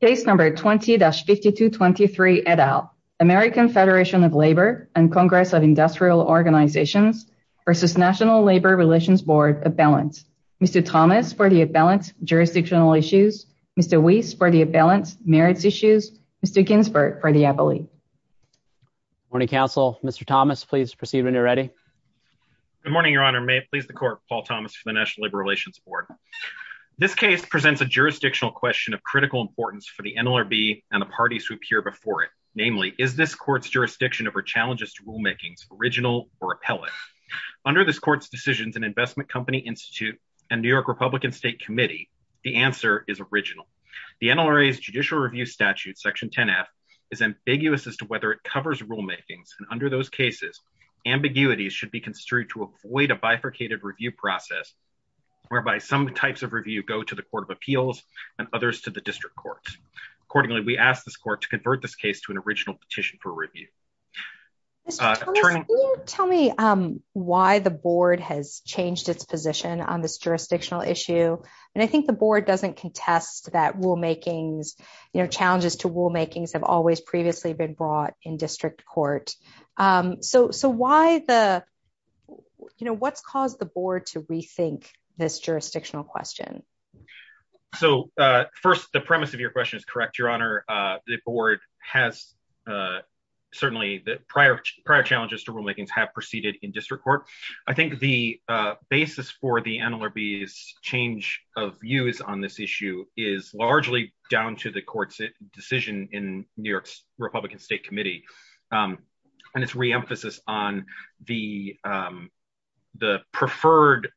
Case number 20-5223, et al. American Federation of Labor and Congress of Industrial Organizations v. National Labor Relations Board, appellant. Mr. Thomas for the appellant, jurisdictional issues. Mr. Weiss for the appellant, merits issues. Mr. Ginsberg for the appellee. Good morning, counsel. Mr. Thomas, please proceed when you're ready. Good morning, Your Honor. May it please the Court, Paul Thomas for the National Labor Relations Board. This case presents a jurisdictional question of critical importance for the NLRB and the parties who appear before it. Namely, is this court's jurisdiction over challenges to rulemakings original or appellate? Under this court's decisions in Investment Company Institute and New York Republican State Committee, the answer is original. The NLRA's judicial review statute, Section 10-F, is ambiguous as to whether it covers rulemakings. Under those cases, ambiguity should be construed to avoid a bifurcated review process whereby some types of review go to the Court of Appeals and others to the district courts. Accordingly, we ask this court to convert this case to an original petition for review. Mr. Thomas, can you tell me why the board has changed its position on this jurisdictional issue? And I think the board doesn't contest that rulemakings, you know, challenges to rulemakings have always previously been brought in district court. So so why the you know, what's caused the board to rethink this jurisdictional question? So first, the premise of your question is correct, Your Honor. The board has certainly the prior prior challenges to rulemakings have proceeded in district court. I think the basis for the NLRB's change of views on this issue is largely down to the court's decision in New York's Republican State Committee and its re-emphasis on the the preferred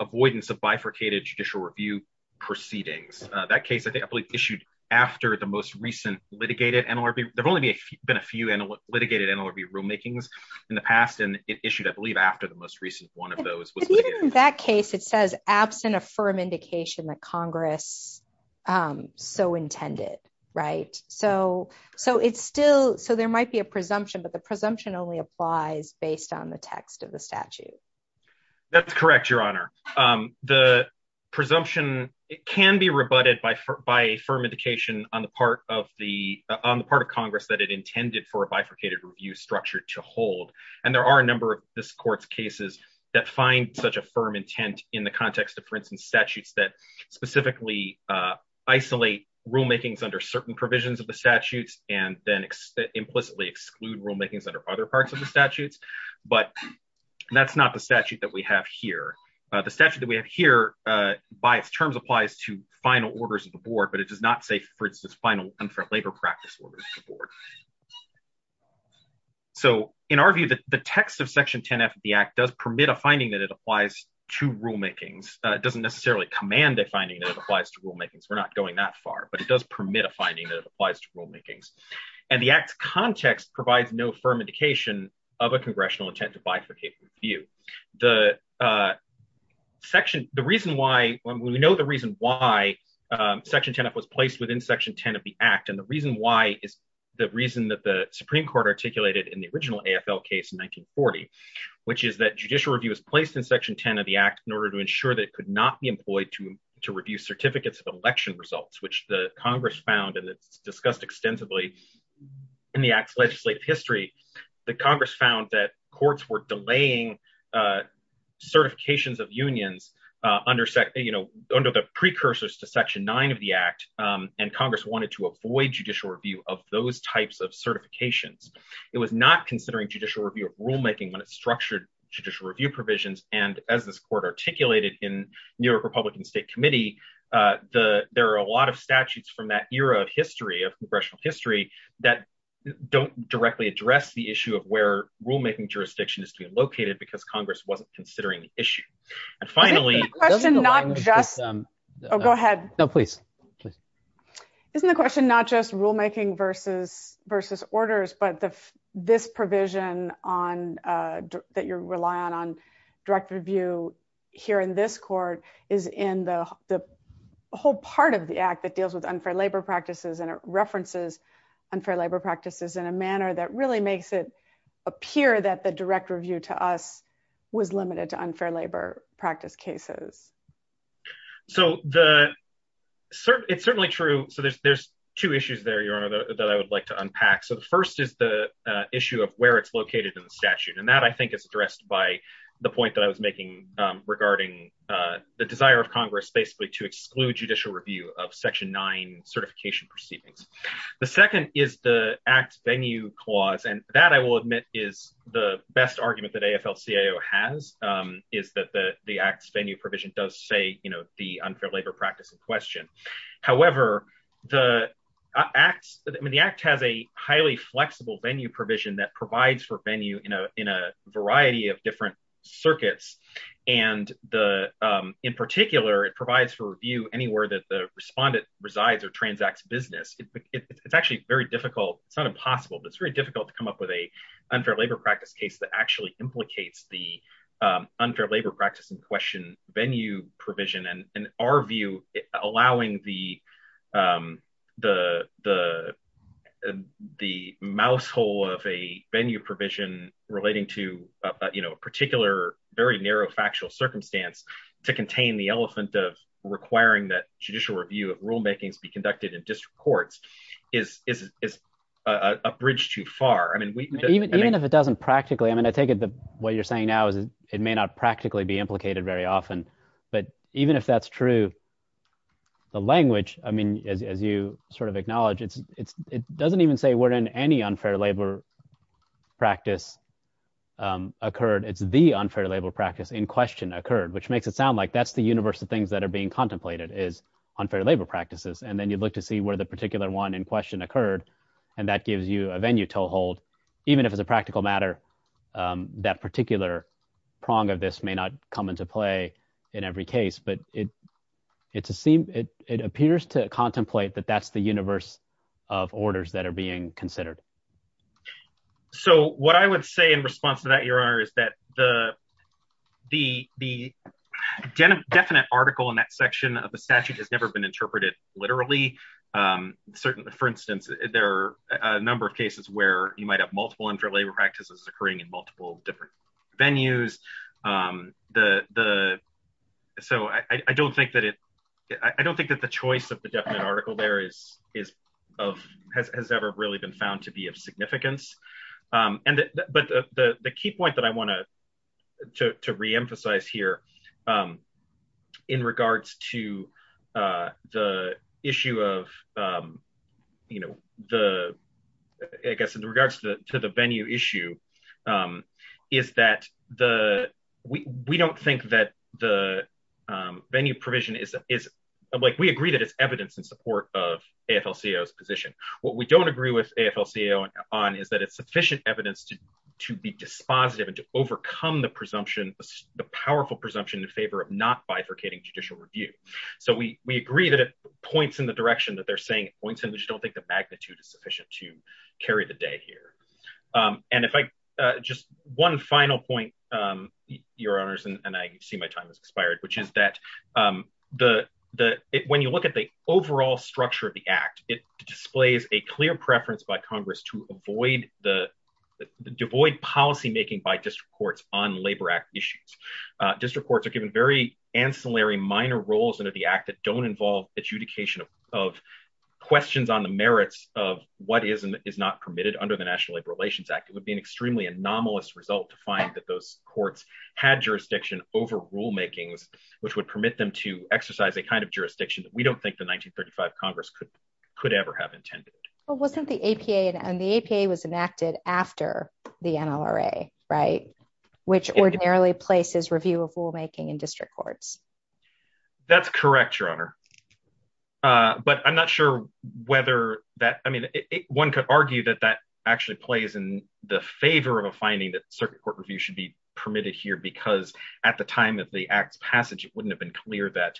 avoidance of bifurcated judicial review proceedings. That case, I believe, issued after the most recent litigated NLRB. There's only been a few litigated NLRB rulemakings in the past, and it issued, I believe, after the most recent one of those. In that case, it says absent a firm indication that Congress so intended. Right. So so it's still so there might be a presumption, but the presumption only applies based on the text of the statute. That's correct, Your Honor. The presumption can be rebutted by by a firm indication on the part of the on the part of Congress that it intended for a bifurcated review structure to hold. And there are a number of this court's cases that find such a firm intent in the context of, for instance, statutes that specifically isolate rulemakings under certain provisions of the statutes and then implicitly exclude rulemakings under other parts of the statutes. But that's not the statute that we have here. The statute that we have here, by its terms, applies to final orders of the board, but it does not say, for instance, final unfair labor practice orders to the board. So, in our view, the text of Section 10 F of the Act does permit a finding that it applies to rulemakings. It doesn't necessarily command a finding that it applies to rulemakings. We're not going that far, but it does permit a finding that it applies to rulemakings. And the Act's context provides no firm indication of a congressional intent to bifurcate review. The section, the reason why, we know the reason why Section 10 F was placed within Section 10 of the Act, and the reason why is the reason that the Supreme Court articulated in the original AFL case in 1940, which is that judicial review is placed in Section 10 of the Act in order to ensure that it could not be employed to review certificates of election results, which the Congress found, and it's discussed extensively in the Act's legislative history, that Congress found that courts were delaying certifications of unions under the precursors to Section 9 of the Act, and Congress wanted to avoid judicial review of those types of certifications. It was not considering judicial review of rulemaking when it structured judicial review provisions, and as this court articulated in New York Republican State Committee, there are a lot of statutes from that era of history, of congressional history, that don't directly address the issue of where rulemaking jurisdiction is to be located because Congress wasn't considering the issue. And finally- Oh, go ahead. No, please. Isn't the question not just rulemaking versus orders, but this provision that you're relying on direct review here in this court is in the whole part of the Act that deals with unfair labor practices and it references unfair labor practices in a manner that really makes it appear that the direct review to us was limited to unfair labor practice cases? So it's certainly true. So there's two issues there, Your Honor, that I would like to unpack. So the first is the issue of where it's located in the statute, and that I think is addressed by the point that I was making regarding the desire of Congress basically to exclude judicial review of Section 9 certification proceedings. The second is the Act's venue clause, and that I will admit is the best argument that AFL-CIO has, is that the Act's venue provision does say, you know, the unfair labor practice in question. However, the Act has a highly flexible venue provision that provides for venue in a variety of different circuits, and in particular, it provides for review anywhere that the respondent resides or transacts business. It's actually very difficult, it's not impossible, but it's very difficult to come up with a unfair labor practice case that actually implicates the unfair labor practice in question venue provision and our view, allowing the the mousehole of a venue provision relating to, you know, a particular very narrow factual circumstance to contain the elephant of requiring that judicial review of rulemakings be conducted in district courts is a bridge too far. Even if it doesn't practically, I mean, I take it that what you're saying now is it may not practically be implicated very often, but even if that's true, the language, I mean, as you sort of acknowledge, it doesn't even say we're in any unfair labor practice occurred. It's the unfair labor practice in question occurred, which makes it sound like that's the universe of things that are being contemplated is unfair labor practices. And then you look to see where the particular one in question occurred, and that gives you a venue toehold, even if it's a practical matter, that particular prong of this may not come into play in every case, but it appears to contemplate that that's the universe of orders that are being considered. So what I would say in response to that your honor is that the, the, the definite article in that section of the statute has never been interpreted, literally, certainly for instance, there are a number of cases where you might have multiple unfair labor practices occurring in multiple different venues. The, the. So I don't think that it. I don't think that the choice of the definite article there is, is, of has ever really been found to be of significance. And, but the key point that I want to reemphasize here. In regards to the issue of, you know, the, I guess in regards to the venue issue. Is that the, we don't think that the venue provision is, is like we agree that it's evidence in support of a FL CEOs position. What we don't agree with a FL CEO on is that it's sufficient evidence to to be dispositive and to overcome the presumption, the powerful presumption in favor of not bifurcating judicial review. So we, we agree that it points in the direction that they're saying points in which don't think the magnitude is sufficient to carry the day here. And if I just one final point, your honors and I see my time has expired, which is that the, the, when you look at the overall structure of the act, it displays a clear preference by Congress to avoid the devoid policymaking by just reports on Labor Act issues district courts are given very ancillary minor roles under the act that don't involve adjudication of questions on the merits of what is and is not permitted under the National Labor Relations Act, it would be an extremely anomalous result to find that those courts had jurisdiction over rulemakings, which would permit them to exercise a kind of jurisdiction that we don't think the 1935 Congress could could ever have intended wasn't the APA and the APA was enacted after the NRA right, which ordinarily places review of rulemaking and district courts. But I'm not sure whether that I mean, one could argue that that actually plays in the favor of a finding that circuit court review should be permitted here because at the time that the acts passage, it wouldn't have been clear that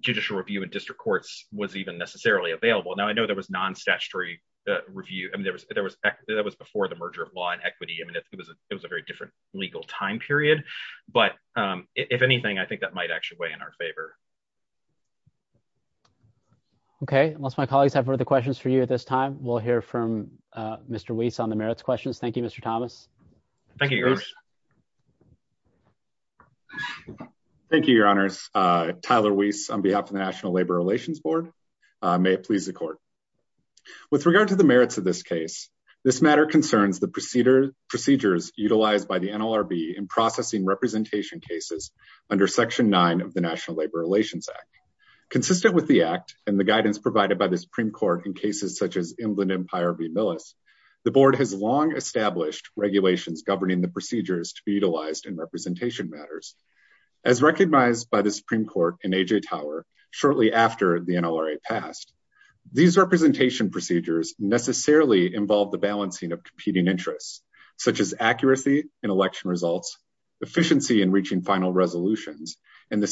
judicial review and district courts was even necessarily available now I know there was non statutory review and there was there was that was before the merger of law and equity and it was it was a very different legal time period. But if anything, I think that might actually weigh in our favor. Okay, unless my colleagues have other questions for you at this time, we'll hear from Mr Weiss on the merits questions. Thank you, Mr. Thomas. Thank you. Thank you. Thank you, Your Honors. Tyler Weiss on behalf of the National Labor Relations Board. May it please the court. With regard to the merits of this case. This matter concerns the procedure procedures utilized by the NLRB and processing representation cases under Section nine of the National Labor Relations Act, consistent with the act and the guidance provided by the Supreme Court in cases such as Inland Empire v. Millis, the board has long established regulations governing the procedures to be utilized in representation matters. As recognized by the Supreme Court in AJ Tower, shortly after the NLRA passed these representation procedures necessarily involve the balancing of competing interests, such as accuracy in election results, efficiency in reaching final resolutions, and the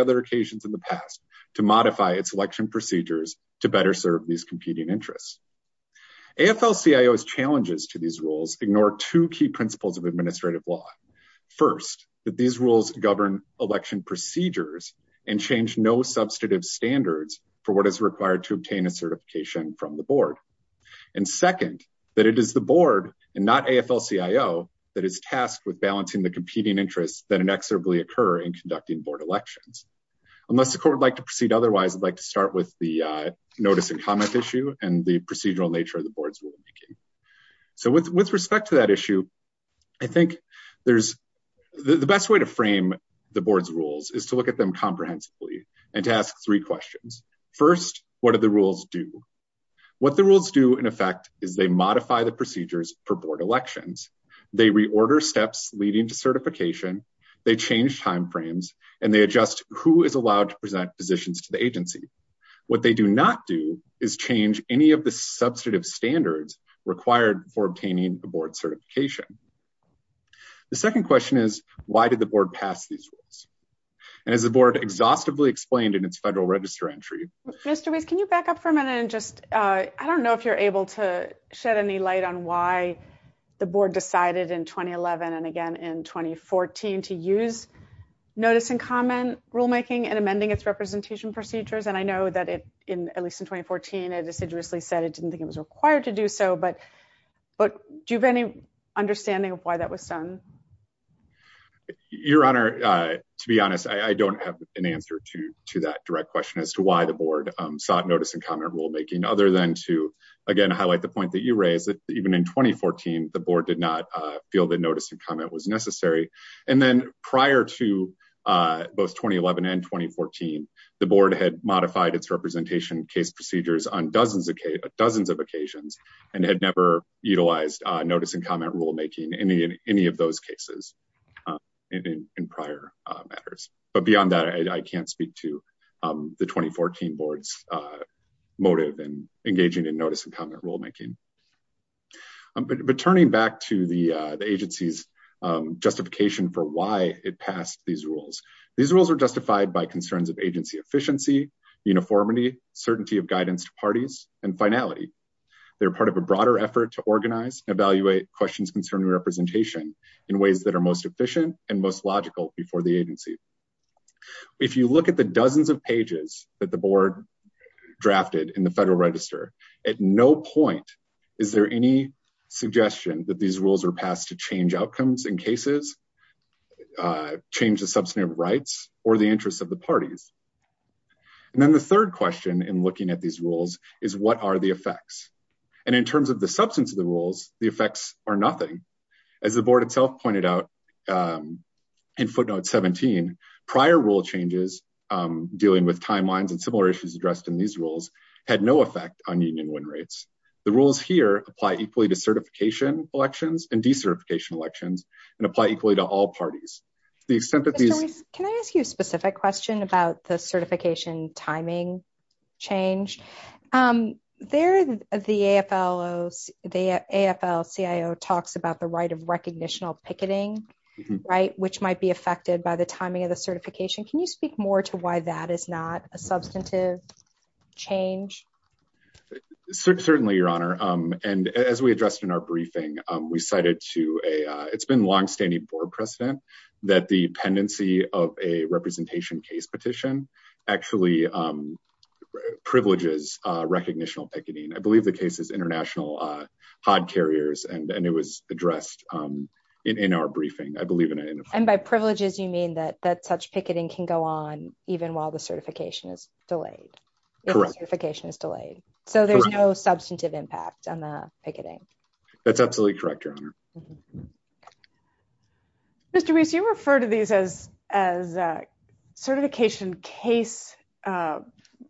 other occasions in the past to modify its election procedures to better serve these competing interests. AFL-CIO's challenges to these rules ignore two key principles of administrative law. First, that these rules govern election procedures and change no substantive standards for what is required to obtain a certification from the board. And second, that it is the board, and not AFL-CIO, that is tasked with balancing the competing interests that inexorably occur in conducting board elections. Unless the court would like to proceed otherwise I'd like to start with the notice and comment issue and the procedural nature of the board's rulemaking. So with respect to that issue. I think there's the best way to frame the board's rules is to look at them comprehensively and to ask three questions. First, what are the rules do? What the rules do in effect is they modify the procedures for board elections, they reorder steps leading to certification, they change timeframes, and they adjust who is allowed to present positions to the agency. What they do not do is change any of the substantive standards required for obtaining the board certification. The second question is, why did the board pass these rules. And as the board exhaustively explained in its federal register entry. Mr. Weiss can you back up for a minute and just, I don't know if you're able to shed any light on why the board decided in 2011 and again in 2014 to use notice and comment rulemaking and amending its representation procedures and I know that it in at least in 2014 it assiduously said it didn't think it was required to do so but, but do you have any understanding of why that was done. Your Honor, to be honest, I don't have an answer to that direct question as to why the board sought notice and comment rulemaking other than to again highlight the point that you raised that even in 2014, the board did not feel that notice and comment was necessary. And then, prior to both 2011 and 2014, the board had modified its representation case procedures on dozens of dozens of occasions, and had never utilized notice and comment rulemaking any in any of those cases in prior matters, but beyond that I can't speak to the 2014 boards motive and engaging in notice and comment rulemaking. But turning back to the agency's justification for why it passed these rules. These rules are justified by concerns of agency efficiency, uniformity, certainty of guidance to parties, and finality. They're part of a broader effort to organize evaluate questions concerning representation in ways that are most efficient and most logical before the agency. If you look at the dozens of pages that the board drafted in the Federal Register, at no point. Is there any suggestion that these rules are passed to change outcomes in cases, change the substantive rights or the interests of the parties. And then the third question in looking at these rules is what are the effects. And in terms of the substance of the rules, the effects are nothing. As the board itself pointed out in footnote 17 prior rule changes, dealing with timelines and similar issues addressed in these rules had no effect on union win rates. The rules here, apply equally to certification elections and decertification elections and apply equally to all parties, the extent that these can I ask you a specific question about the certification timing change. There, the AFL is the AFL CIO talks about the right of recognition of picketing right which might be affected by the timing of the certification Can you speak more to why that is not a substantive change. Certainly, Your Honor, and as we addressed in our briefing, we cited to a, it's been long standing for precedent that the pendency of a representation case petition actually privileges recognition of picketing I believe the case is international hard carriers and and it was addressed in our briefing, I believe, and by privileges you mean that that such picketing can go on, even while the certification is delayed. If the certification is delayed. So there's no substantive impact on the picketing. That's absolutely correct, Your Honor. Mr Reese you refer to these as as certification case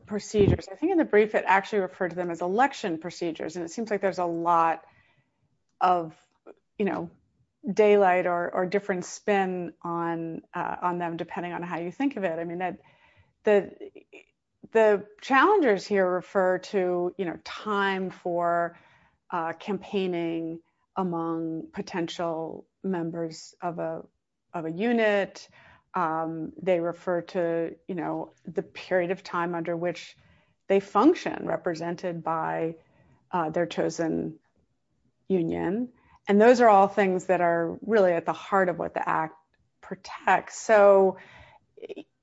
procedures, I think, in the brief it actually referred to them as election procedures and it seems like there's a lot of, you know, daylight or different spin on on them, depending on how you think of it. The, the challengers here refer to, you know, time for campaigning among potential members of a, of a unit. They refer to, you know, the period of time under which they function represented by their chosen union. And those are all things that are really at the heart of what the act protects so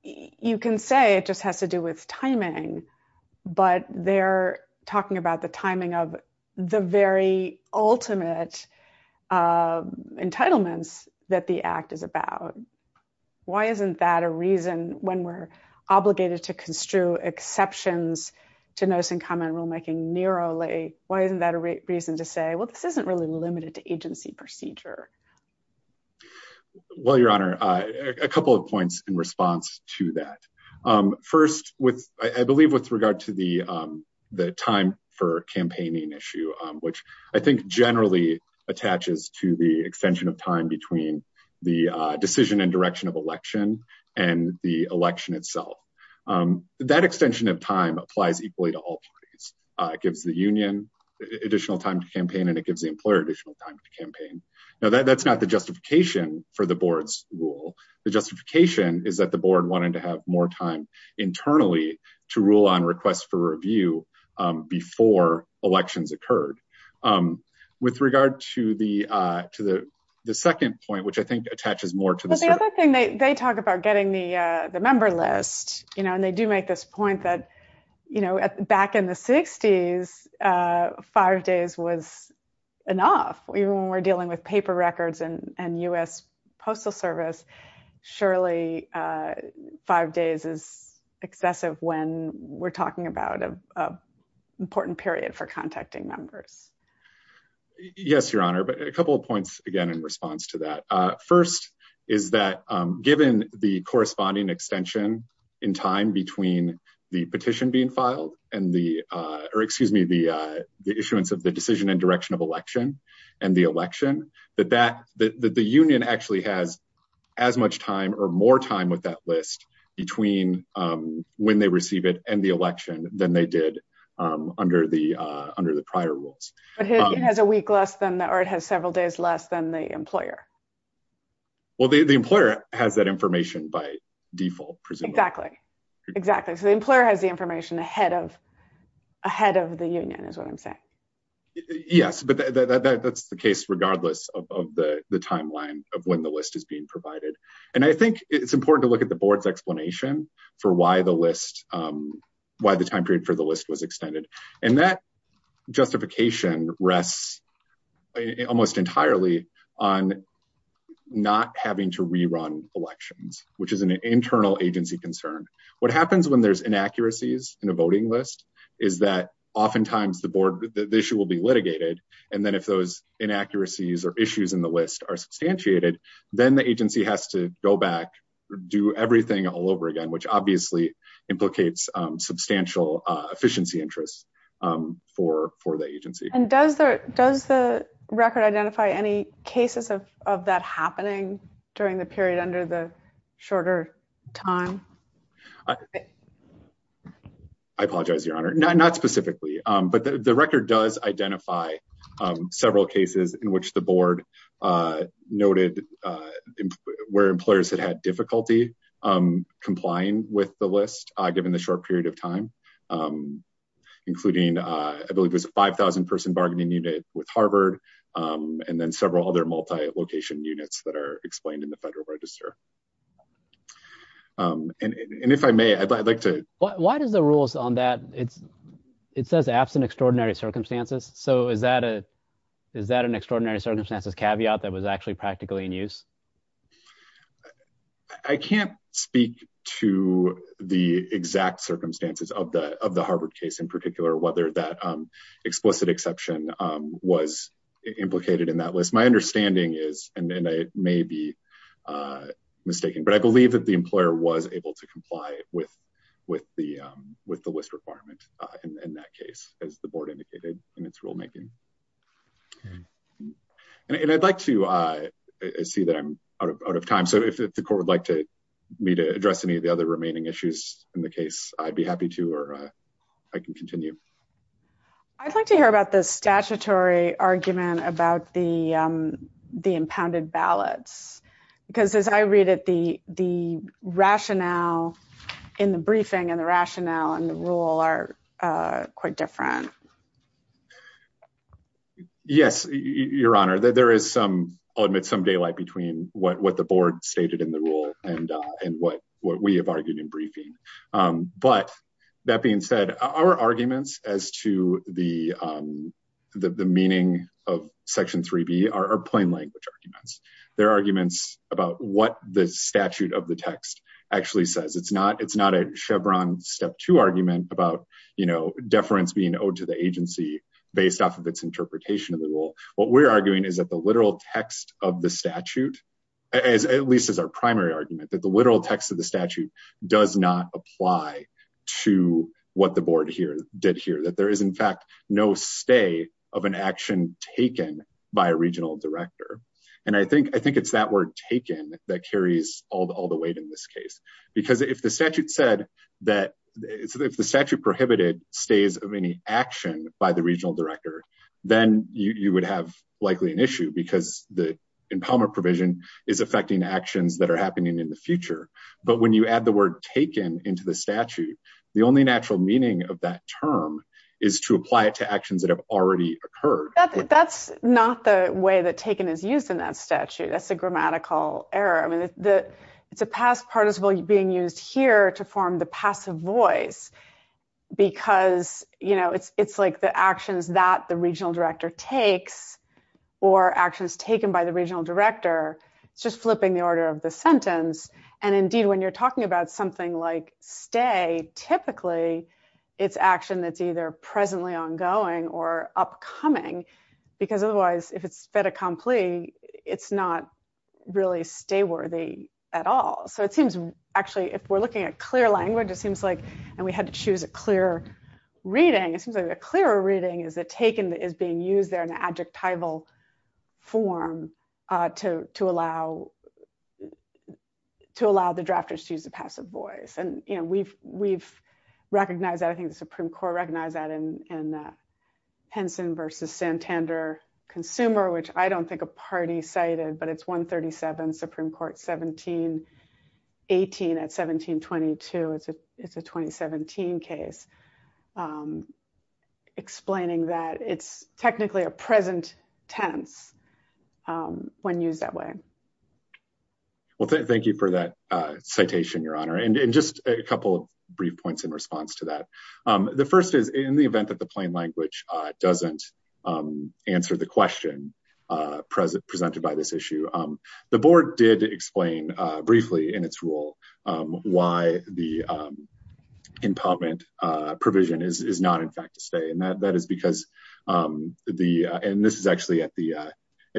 You can say it just has to do with timing, but they're talking about the timing of the very ultimate entitlements that the act is about. Why isn't that a reason when we're obligated to construe exceptions to notice and comment rulemaking narrowly. Why isn't that a reason to say, well, this isn't really limited to agency procedure. Well, Your Honor, a couple of points in response to that. First, with, I believe, with regard to the time for campaigning issue, which I think generally attaches to the extension of time between the decision and direction of election and the election itself. That extension of time applies equally to all parties. It gives the union additional time to campaign and it gives the employer additional time to campaign. Now that's not the justification for the board's rule. The justification is that the board wanted to have more time internally to rule on requests for review before elections occurred. With regard to the, to the second point, which I think attaches more to the The other thing they talk about getting the member list, you know, and they do make this point that, you know, back in the 60s five days was enough, even when we're dealing with paper records and US Postal Service surely five days is excessive when we're talking about an important period for contacting members. Yes, Your Honor, but a couple of points again in response to that. First, is that given the corresponding extension in time between the petition being filed and the, or excuse me, the, the issuance of the decision and direction of election and the election that that the union actually has as much time or more time with that list between when they receive it and the election than they did under the under the prior rules. It has a week less than that, or it has several days less than the employer. Well, the employer has that information by default. Exactly, exactly. So the employer has the information ahead of ahead of the union is what I'm saying. Yes, but that's the case, regardless of the timeline of when the list is being provided. And I think it's important to look at the board's explanation for why the list. Why the time period for the list was extended and that justification rests almost entirely on not having to rerun elections, which is an internal agency concern. What happens when there's inaccuracies in a voting list is that oftentimes the board, the issue will be litigated. And then if those inaccuracies or issues in the list are substantiated, then the agency has to go back, do everything all over again, which obviously implicates substantial efficiency interest for for the agency. And does the does the record identify any cases of of that happening during the period under the shorter time? I apologize, Your Honor. Not specifically, but the record does identify several cases in which the board noted where employers had had difficulty complying with the list. Given the short period of time, including I believe was a five thousand person bargaining unit with Harvard and then several other multi location units that are explained in the Federal Register. And if I may, I'd like to. Why does the rules on that? It's it says absent extraordinary circumstances. So is that a is that an extraordinary circumstances caveat that was actually practically in use? I can't speak to the exact circumstances of the of the Harvard case in particular, whether that explicit exception was implicated in that list. My understanding is and I may be mistaken, but I believe that the employer was able to comply with with the with the list requirement in that case, as the board indicated in its rulemaking. And I'd like to see that I'm out of time. So if the court would like to me to address any of the other remaining issues in the case, I'd be happy to or I can continue. I'd like to hear about the statutory argument about the the impounded ballots, because as I read it, the the rationale in the briefing and the rationale and the rule are quite different. Yes, Your Honor, there is some I'll admit some daylight between what the board stated in the rule and and what what we have argued in briefing. But that being said, our arguments as to the the meaning of Section three B are plain language arguments. They're arguments about what the statute of the text actually says. It's not it's not a Chevron step to argument about, you know, deference being owed to the agency based off of its interpretation of the rule. What we're arguing is that the literal text of the statute, as at least as our primary argument that the literal text of the statute does not apply to what the board here did here, that there is, in fact, no stay of an action taken by a regional director. And I think I think it's that word taken that carries all the weight in this case, because if the statute said that if the statute prohibited stays of any action by the regional director, then you would have likely an issue because the impoundment provision is affecting actions that are happening in the future. But when you add the word taken into the statute, the only natural meaning of that term is to apply it to actions that have already occurred. That's not the way that taken is used in that statute. That's a grammatical error. I mean, the it's a past participle being used here to form the passive voice. Because, you know, it's it's like the actions that the regional director takes or actions taken by the regional director. It's just flipping the order of the sentence. And indeed, when you're talking about something like stay typically it's action that's either presently ongoing or upcoming because otherwise if it's fait accompli, it's not really stay worthy at all. So it seems actually if we're looking at clear language, it seems like and we had to choose a clear reading. It seems like a clearer reading is that taken is being used there in an adjectival form to to allow to allow the drafters to use the passive voice. And, you know, we've we've recognized that I think the Supreme Court recognized that in that Henson versus Santander consumer, which I don't think a party cited, but it's 137 Supreme Court 1718 at 1722. It's a it's a 2017 case explaining that it's technically a present tense when used that way. Well, thank you for that citation, Your Honor, and just a couple of brief points in response to that. The first is in the event that the plain language doesn't answer the question present presented by this issue. The board did explain briefly in its rule, why the impoundment provision is not in fact to stay and that that is because the, and this is actually at the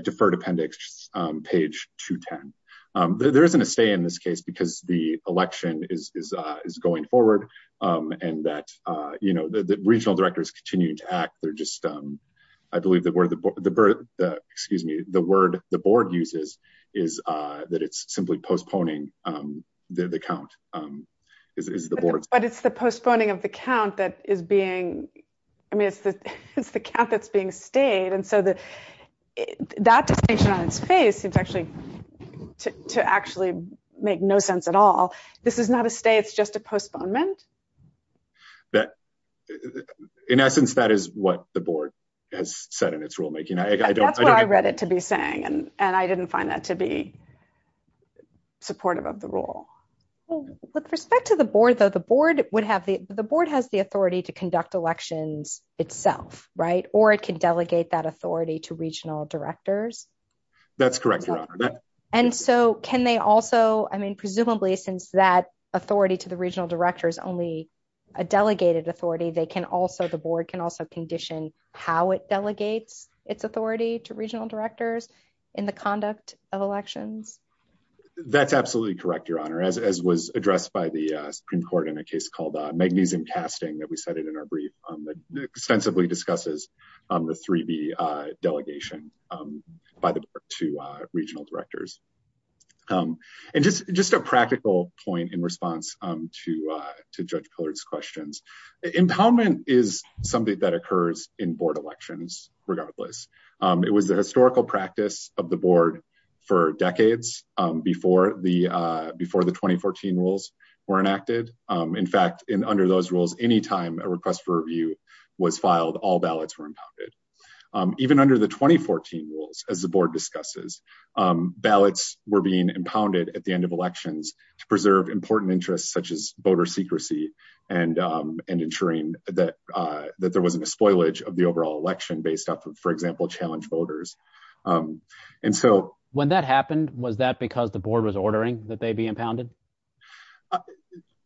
deferred appendix page 210. There isn't a stay in this case because the election is going forward. And that, you know, the regional directors continue to act. They're just, I believe that we're the excuse me, the word the board uses is that it's simply postponing the count is the board. But it's the postponing of the count that is being, I mean, it's the it's the count that's being stayed. And so that that distinction on its face, it's actually to actually make no sense at all. This is not a stay. It's just a postponement. That, in essence, that is what the board has said in its rulemaking. I don't know. I read it to be saying and and I didn't find that to be supportive of the rule. With respect to the board, though, the board would have the, the board has the authority to conduct elections itself right or it can delegate that authority to regional directors. That's correct. And so can they also I mean presumably since that authority to the regional directors only a delegated authority, they can also the board can also condition, how it delegates its authority to regional directors in the conduct of elections. That's absolutely correct, Your Honor, as was addressed by the Supreme Court in a case called magnesium casting that we said it in our brief on the extensively discusses on the three be delegation by the two regional directors. And just, just a practical point in response to to judge coloreds questions impoundment is something that occurs in board elections, regardless. It was the historical practice of the board for decades before the before the 2014 rules were enacted. In fact, in under those rules, anytime a request for review was filed all ballots were impacted. Even under the 2014 rules as the board discusses ballots were being impounded at the end of elections to preserve important interests such as voter secrecy and and ensuring that that there wasn't a spoilage of the overall election based off of for example challenge voters. And so, when that happened, was that because the board was ordering that they be impounded.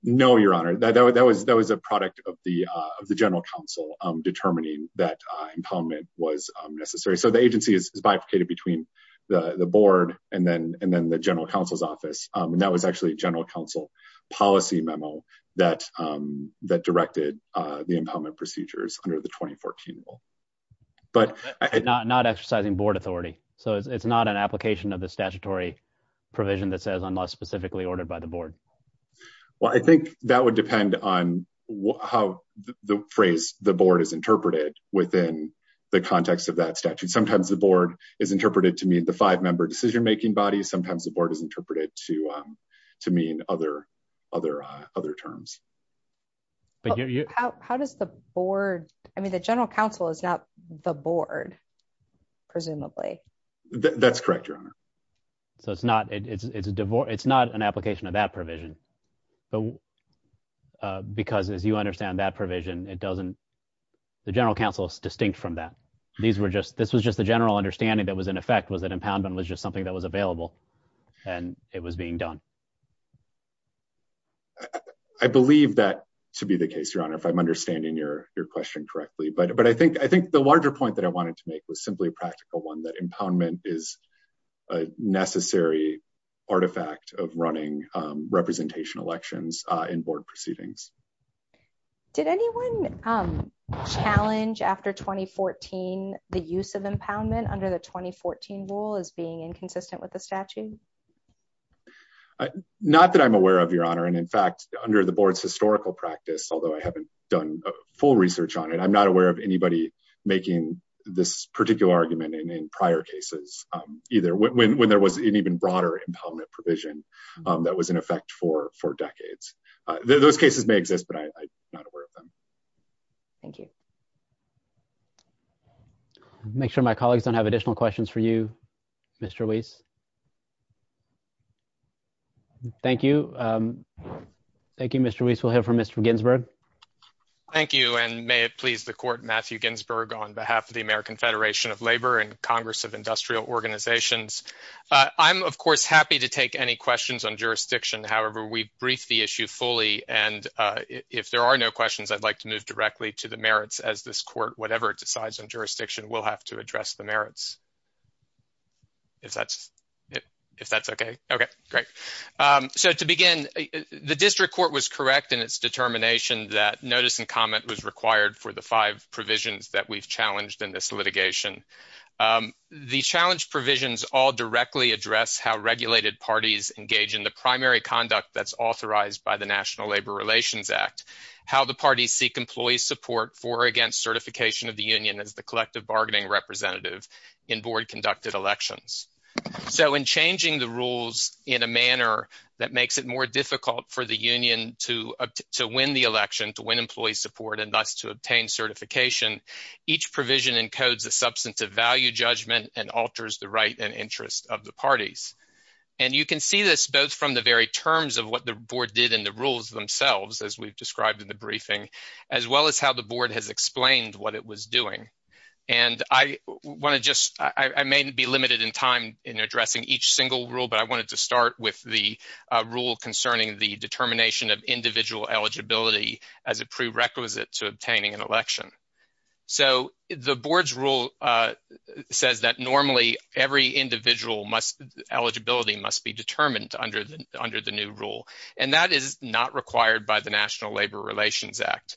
No, Your Honor, that was that was a product of the of the general counsel, determining that impoundment was necessary so the agency is bifurcated between the board, and then, and then the general counsel's office, and that was actually general counsel policy memo that that directed the impoundment procedures under the 2014. But not not exercising board authority, so it's not an application of the statutory provision that says unless specifically ordered by the board. Well, I think that would depend on how the phrase, the board is interpreted within the context of that statute sometimes the board is interpreted to meet the five member decision making body sometimes the board is interpreted to to mean other other other terms. But how does the board. I mean the general counsel is not the board. Presumably, that's correct, Your Honor. So it's not it's a divorce, it's not an application of that provision. But because as you understand that provision, it doesn't. The general counsel is distinct from that. These were just this was just the general understanding that was in effect was that impoundment was just something that was available. And it was being done. I believe that to be the case, Your Honor, if I'm understanding your, your question correctly but but I think I think the larger point that I wanted to make was simply a practical one that impoundment is a necessary artifact of running representation elections in board proceedings. Did anyone challenge after 2014, the use of impoundment under the 2014 rule is being inconsistent with the statute. Not that I'm aware of, Your Honor. And in fact, under the board's historical practice, although I haven't done full research on it, I'm not aware of anybody making this particular argument and in prior cases, either when there was an even broader impoundment provision that was in effect for four decades. Those cases may exist, but I'm not aware of them. Thank you. Make sure my colleagues don't have additional questions for you, Mr. Weiss. Thank you. Thank you, Mr. Weiss will hear from Mr Ginsburg. Thank you and may it please the court Matthew Ginsburg on behalf of the American Federation of Labor and Congress of Industrial Organizations. I'm of course happy to take any questions on jurisdiction. However, we brief the issue fully and if there are no questions I'd like to move directly to the merits as this court, whatever it decides on jurisdiction will have to address the merits. If that's if that's okay. Okay, great. So to begin, the district court was correct in its determination that notice and comment was required for the five provisions that we've challenged in this litigation. The challenge provisions all directly address how regulated parties engage in the primary conduct that's authorized by the National Labor Relations Act, how the parties seek employee support for against certification of the union as the collective bargaining representative in board conducted elections. So in changing the rules in a manner that makes it more difficult for the union to to win the election to win employee support and thus to obtain certification. Each provision encodes a substantive value judgment and alters the right and interest of the parties. And you can see this both from the very terms of what the board did in the rules themselves as we've described in the briefing, as well as how the board has explained what it was doing. And I want to just, I may be limited in time in addressing each single rule, but I wanted to start with the rule concerning the determination of individual eligibility as a prerequisite to obtaining an election. So the board's rule says that normally every individual must eligibility must be determined under the under the new rule, and that is not required by the National Labor Relations Act.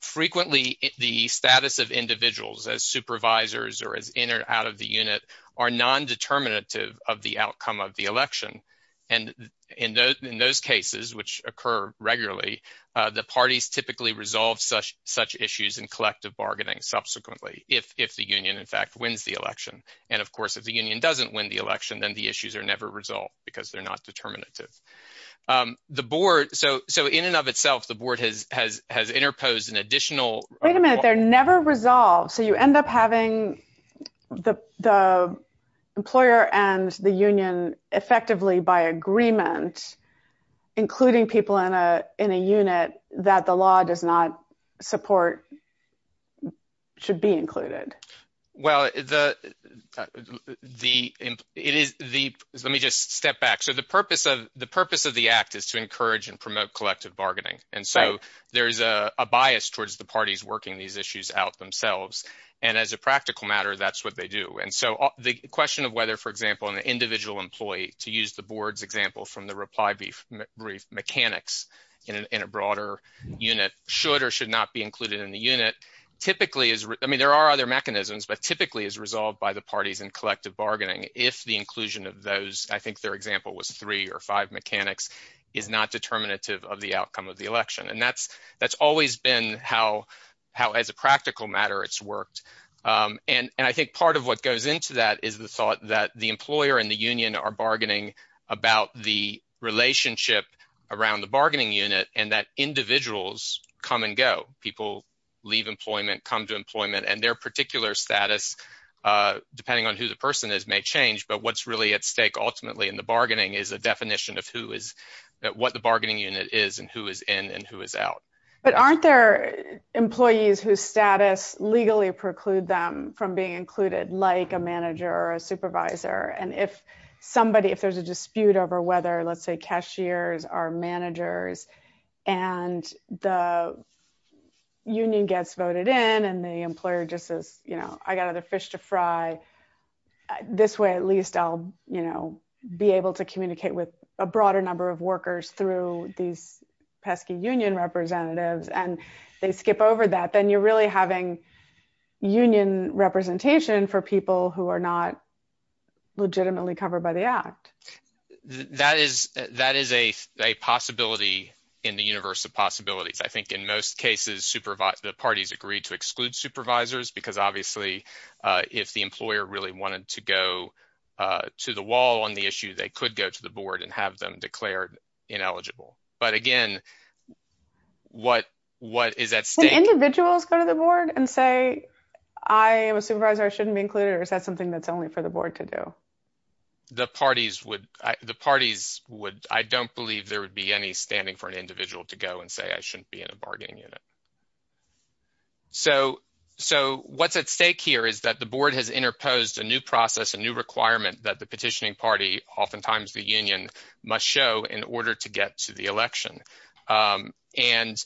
Frequently, the status of individuals as supervisors or as in or out of the unit are non-determinative of the outcome of the election. And in those cases, which occur regularly, the parties typically resolve such issues in collective bargaining subsequently if the union, in fact, wins the election. And, of course, if the union doesn't win the election, then the issues are never resolved because they're not determinative. The board – so in and of itself, the board has interposed an additional – Wait a minute. They're never resolved. So you end up having the employer and the union effectively by agreement, including people in a unit that the law does not support should be included. Well, the – let me just step back. So the purpose of the act is to encourage and promote collective bargaining. And so there's a bias towards the parties working these issues out themselves. And as a practical matter, that's what they do. And so the question of whether, for example, an individual employee, to use the board's example from the reply brief mechanics in a broader unit, should or should not be included in the unit typically is – I mean, there are other mechanisms, but typically is resolved by the parties in collective bargaining if the inclusion of those – I think their example was three or five mechanics – is not determinative of the outcome of the election. And that's always been how, as a practical matter, it's worked. And I think part of what goes into that is the thought that the employer and the union are bargaining about the relationship around the bargaining unit and that individuals come and go. People leave employment, come to employment, and their particular status, depending on who the person is, may change. But what's really at stake ultimately in the bargaining is a definition of who is – what the bargaining unit is and who is in and who is out. But aren't there employees whose status legally preclude them from being included, like a manager or a supervisor? And if somebody – if there's a dispute over whether, let's say, cashiers are managers and the union gets voted in and the employer just says, you know, I got other fish to fry, this way at least I'll, you know, be able to communicate with a broader number of workers through these pesky union representatives. And they skip over that, then you're really having union representation for people who are not legitimately covered by the act. That is a possibility in the universe of possibilities. I think in most cases, the parties agree to exclude supervisors because obviously if the employer really wanted to go to the wall on the issue, they could go to the board and have them declared ineligible. But again, what is at stake – Would individuals go to the board and say, I am a supervisor, I shouldn't be included, or is that something that's only for the board to do? The parties would – I don't believe there would be any standing for an individual to go and say, I shouldn't be in a bargaining unit. So what's at stake here is that the board has interposed a new process, a new requirement that the petitioning party, oftentimes the union, must show in order to get to the election. And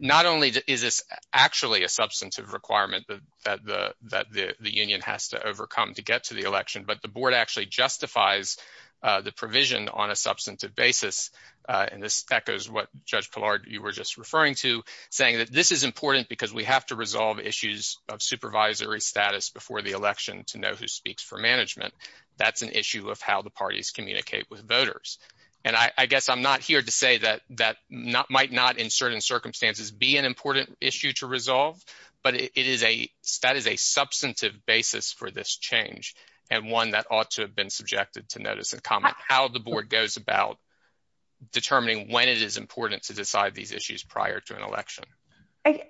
not only is this actually a substantive requirement that the union has to overcome to get to the election, but the board actually justifies the provision on a substantive basis. And this echoes what Judge Pillard, you were just referring to, saying that this is important because we have to resolve issues of supervisory status before the election to know who speaks for management. That's an issue of how the parties communicate with voters. And I guess I'm not here to say that that might not in certain circumstances be an important issue to resolve, but it is a – that is a substantive basis for this change and one that ought to have been subjected to notice and comment. How the board goes about determining when it is important to decide these issues prior to an election.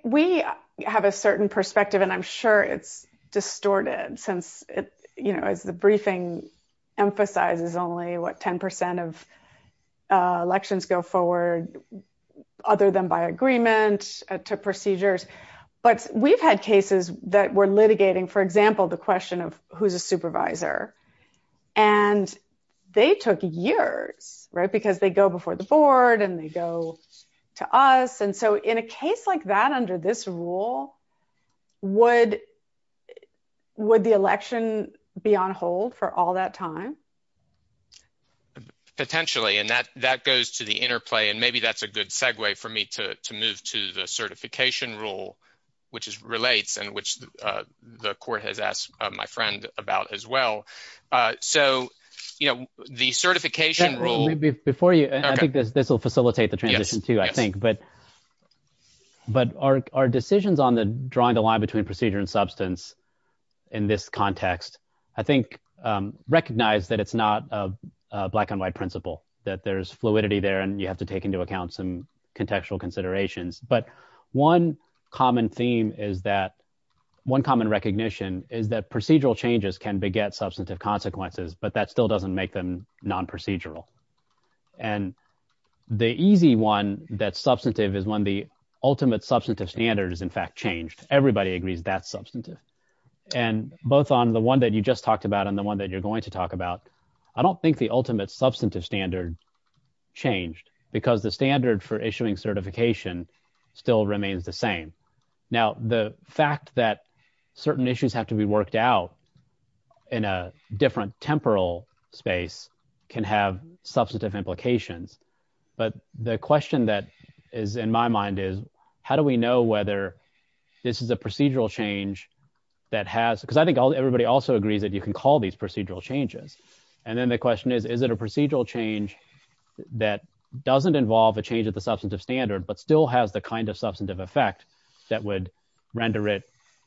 We have a certain perspective, and I'm sure it's distorted since, you know, as the briefing emphasizes only what 10% of elections go forward, other than by agreement to procedures. But we've had cases that were litigating, for example, the question of who's a supervisor. And they took years, right, because they go before the board and they go to us. And so in a case like that under this rule, would the election be on hold for all that time? Potentially, and that goes to the interplay, and maybe that's a good segue for me to move to the certification rule, which relates and which the court has asked my friend about as well. So, you know, the certification rule – Before you – I think this will facilitate the transition too, I think. But our decisions on the drawing the line between procedure and substance in this context I think recognize that it's not a black and white principle, that there's fluidity there and you have to take into account some contextual considerations. But one common theme is that – one common recognition is that procedural changes can beget substantive consequences, but that still doesn't make them non-procedural. And the easy one that's substantive is when the ultimate substantive standard is in fact changed. And both on the one that you just talked about and the one that you're going to talk about, I don't think the ultimate substantive standard changed because the standard for issuing certification still remains the same. Now, the fact that certain issues have to be worked out in a different temporal space can have substantive implications. But the question that is in my mind is, how do we know whether this is a procedural change that has – because I think everybody also agrees that you can call these procedural changes. And then the question is, is it a procedural change that doesn't involve a change of the substantive standard but still has the kind of substantive effect that would render it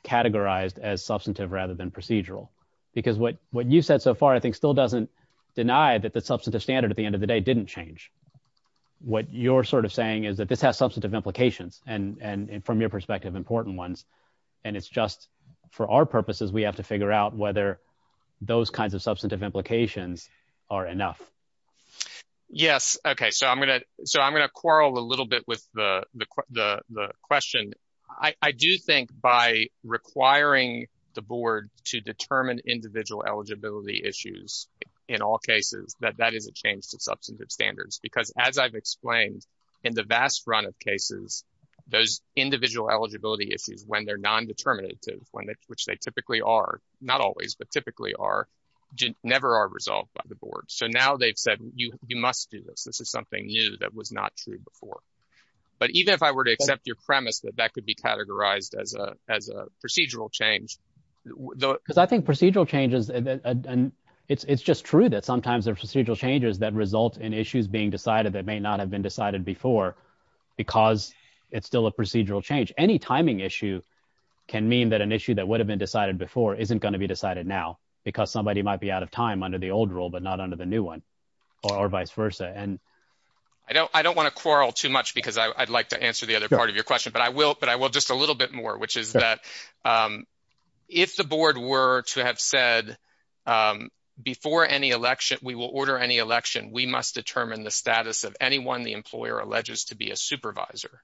categorized as substantive rather than procedural? Because what you said so far I think still doesn't deny that the substantive standard at the end of the day didn't change. What you're sort of saying is that this has substantive implications, and from your perspective, important ones. And it's just for our purposes we have to figure out whether those kinds of substantive implications are enough. Yes. Okay. So I'm going to quarrel a little bit with the question. I do think by requiring the board to determine individual eligibility issues in all cases that that is a change to substantive standards. Because as I've explained, in the vast run of cases, those individual eligibility issues, when they're non-determinative, which they typically are – not always, but typically are – never are resolved by the board. They've said, you must do this. This is something new that was not true before. But even if I were to accept your premise that that could be categorized as a procedural change – Because I think procedural changes – it's just true that sometimes there are procedural changes that result in issues being decided that may not have been decided before because it's still a procedural change. Any timing issue can mean that an issue that would have been decided before isn't going to be decided now because somebody might be out of time under the old rule but not under the new one, or vice versa. I don't want to quarrel too much because I'd like to answer the other part of your question, but I will just a little bit more, which is that if the board were to have said, before any election – we will order any election, we must determine the status of anyone the employer alleges to be a supervisor,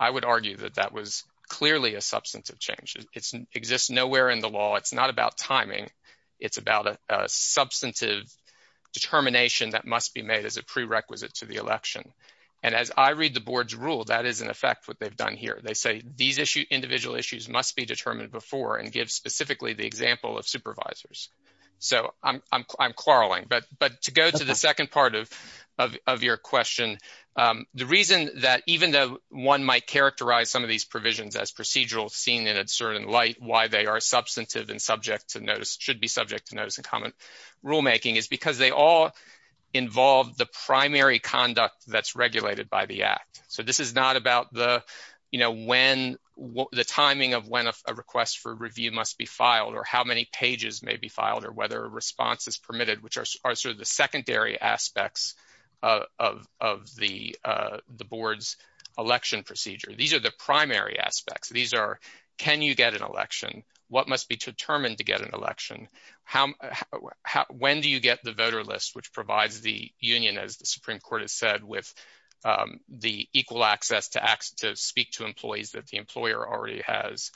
I would argue that that was clearly a substantive change. It exists nowhere in the law. It's not about timing. It's about a substantive determination that must be made as a prerequisite to the election. And as I read the board's rule, that is, in effect, what they've done here. They say these individual issues must be determined before and give specifically the example of supervisors. So I'm quarreling, but to go to the second part of your question, the reason that even though one might characterize some of these provisions as procedural seen in a certain light, why they are substantive and should be subject to notice and comment rulemaking is because they all involve the primary conduct that's regulated by the Act. So this is not about the timing of when a request for review must be filed or how many pages may be filed or whether a response is permitted, which are sort of the secondary aspects of the board's election procedure. These are the primary aspects. These are, can you get an election? What must be determined to get an election? When do you get the voter list, which provides the union, as the Supreme Court has said, with the equal access to speak to employees that the employer already has?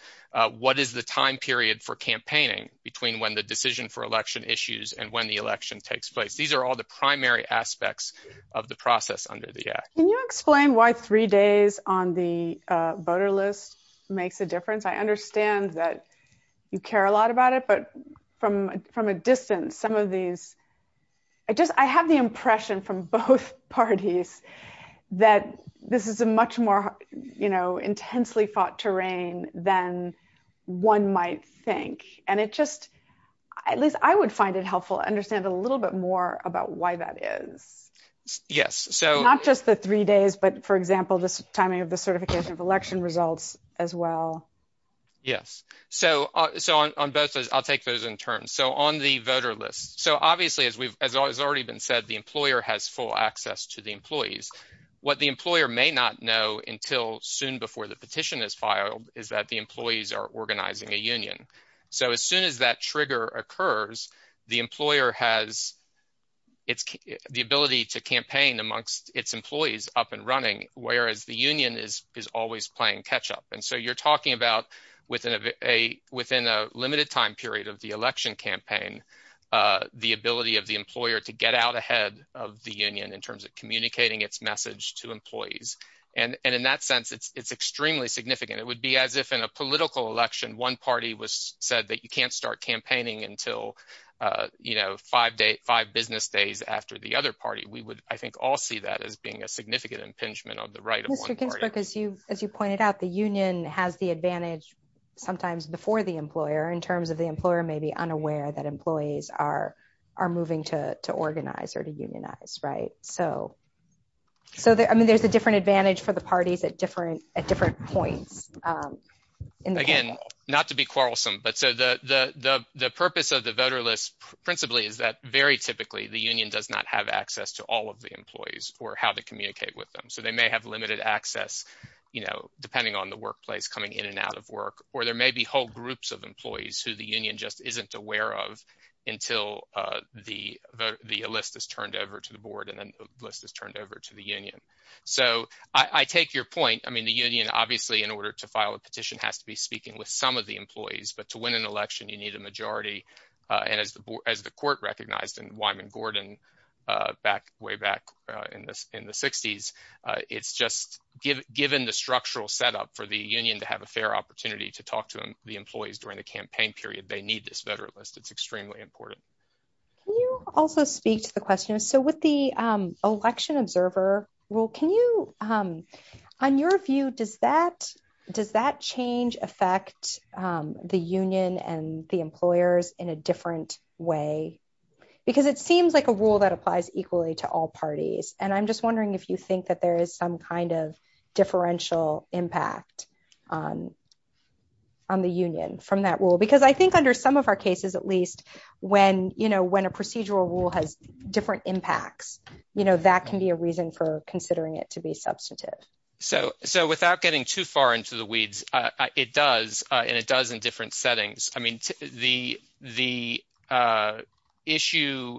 What is the time period for campaigning between when the decision for election issues and when the election takes place? These are all the primary aspects of the process under the Act. Can you explain why three days on the voter list makes a difference? I understand that you care a lot about it, but from a distance, some of these, I just, I have the impression from both parties that this is a much more, you know, intensely fought terrain than one might think. And it just, at least I would find it helpful to understand a little bit more about why that is. Yes. So not just the three days, but for example, this timing of the certification of election results as well. Yes. So, so on both sides, I'll take those in turn. So on the voter list. So obviously, as we've always already been said, the employer has full access to the employees. What the employer may not know until soon before the petition is filed is that the employees are organizing a union. So as soon as that trigger occurs, the employer has the ability to campaign amongst its employees up and running, whereas the union is always playing catch up. And so you're talking about within a limited time period of the election campaign, the ability of the employer to get out ahead of the union in terms of communicating its message to employees. And in that sense, it's extremely significant. It would be as if in a political election, one party was said that you can't start campaigning until, you know, five business days after the other party. We would, I think, all see that as being a significant impingement on the right of one party. Mr. Ginsburg, as you pointed out, the union has the advantage sometimes before the employer in terms of the employer may be unaware that employees are moving to organize or to unionize, right? So, I mean, there's a different advantage for the parties at different points. Again, not to be quarrelsome, but so the purpose of the voter list principally is that very typically the union does not have access to all of the employees or how to communicate with them. So they may have limited access, you know, depending on the workplace coming in and out of work, or there may be whole groups of employees who the union just isn't aware of until the list is turned over to the board and then list is turned over to the union. So I take your point. I mean, the union, obviously, in order to file a petition has to be speaking with some of the employees, but to win an election, you need a majority. And as the court recognized in Wyman Gordon way back in the 60s, it's just given the structural setup for the union to have a fair opportunity to talk to the employees during the campaign period. They need this veteran list. It's extremely important. Can you also speak to the question? So with the election observer rule, can you, on your view, does that change affect the union and the employers in a different way? Because it seems like a rule that applies equally to all parties. And I'm just wondering if you think that there is some kind of differential impact on the union from that rule. Because I think under some of our cases, at least, when a procedural rule has different impacts, that can be a reason for considering it to be substantive. So without getting too far into the weeds, it does. And it does in different settings. I mean, the issue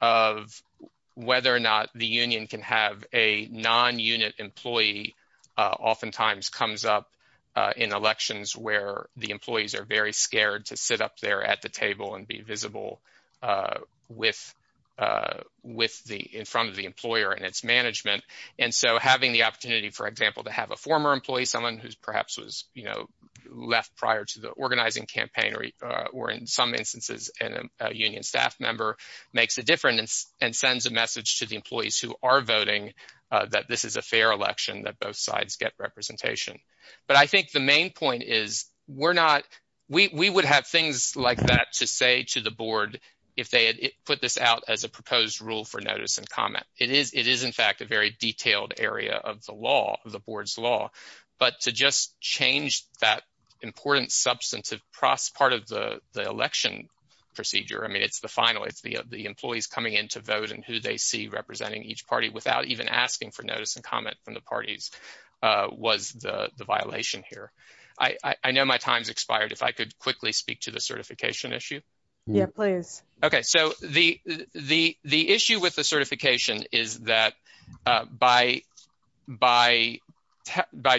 of whether or not the union can have a non-unit employee oftentimes comes up in elections where the employees are very scared to sit up there at the table and be visible in front of the employer and its management. And so having the opportunity, for example, to have a former employee, someone who perhaps was left prior to the organizing campaign, or in some instances, a union staff member, makes a difference and sends a message to the employees who are voting that this is a fair election, that both sides get representation. But I think the main point is we would have things like that to say to the board if they had put this out as a proposed rule for notice and comment. It is, in fact, a very detailed area of the law, of the board's law. But to just change that important substantive part of the election procedure, I mean, it's the final. It's the employees coming in to vote and who they see representing each party without even asking for notice and comment from the parties was the violation here. I know my time's expired. If I could quickly speak to the certification issue. Yeah, please. OK, so the issue with the certification is that by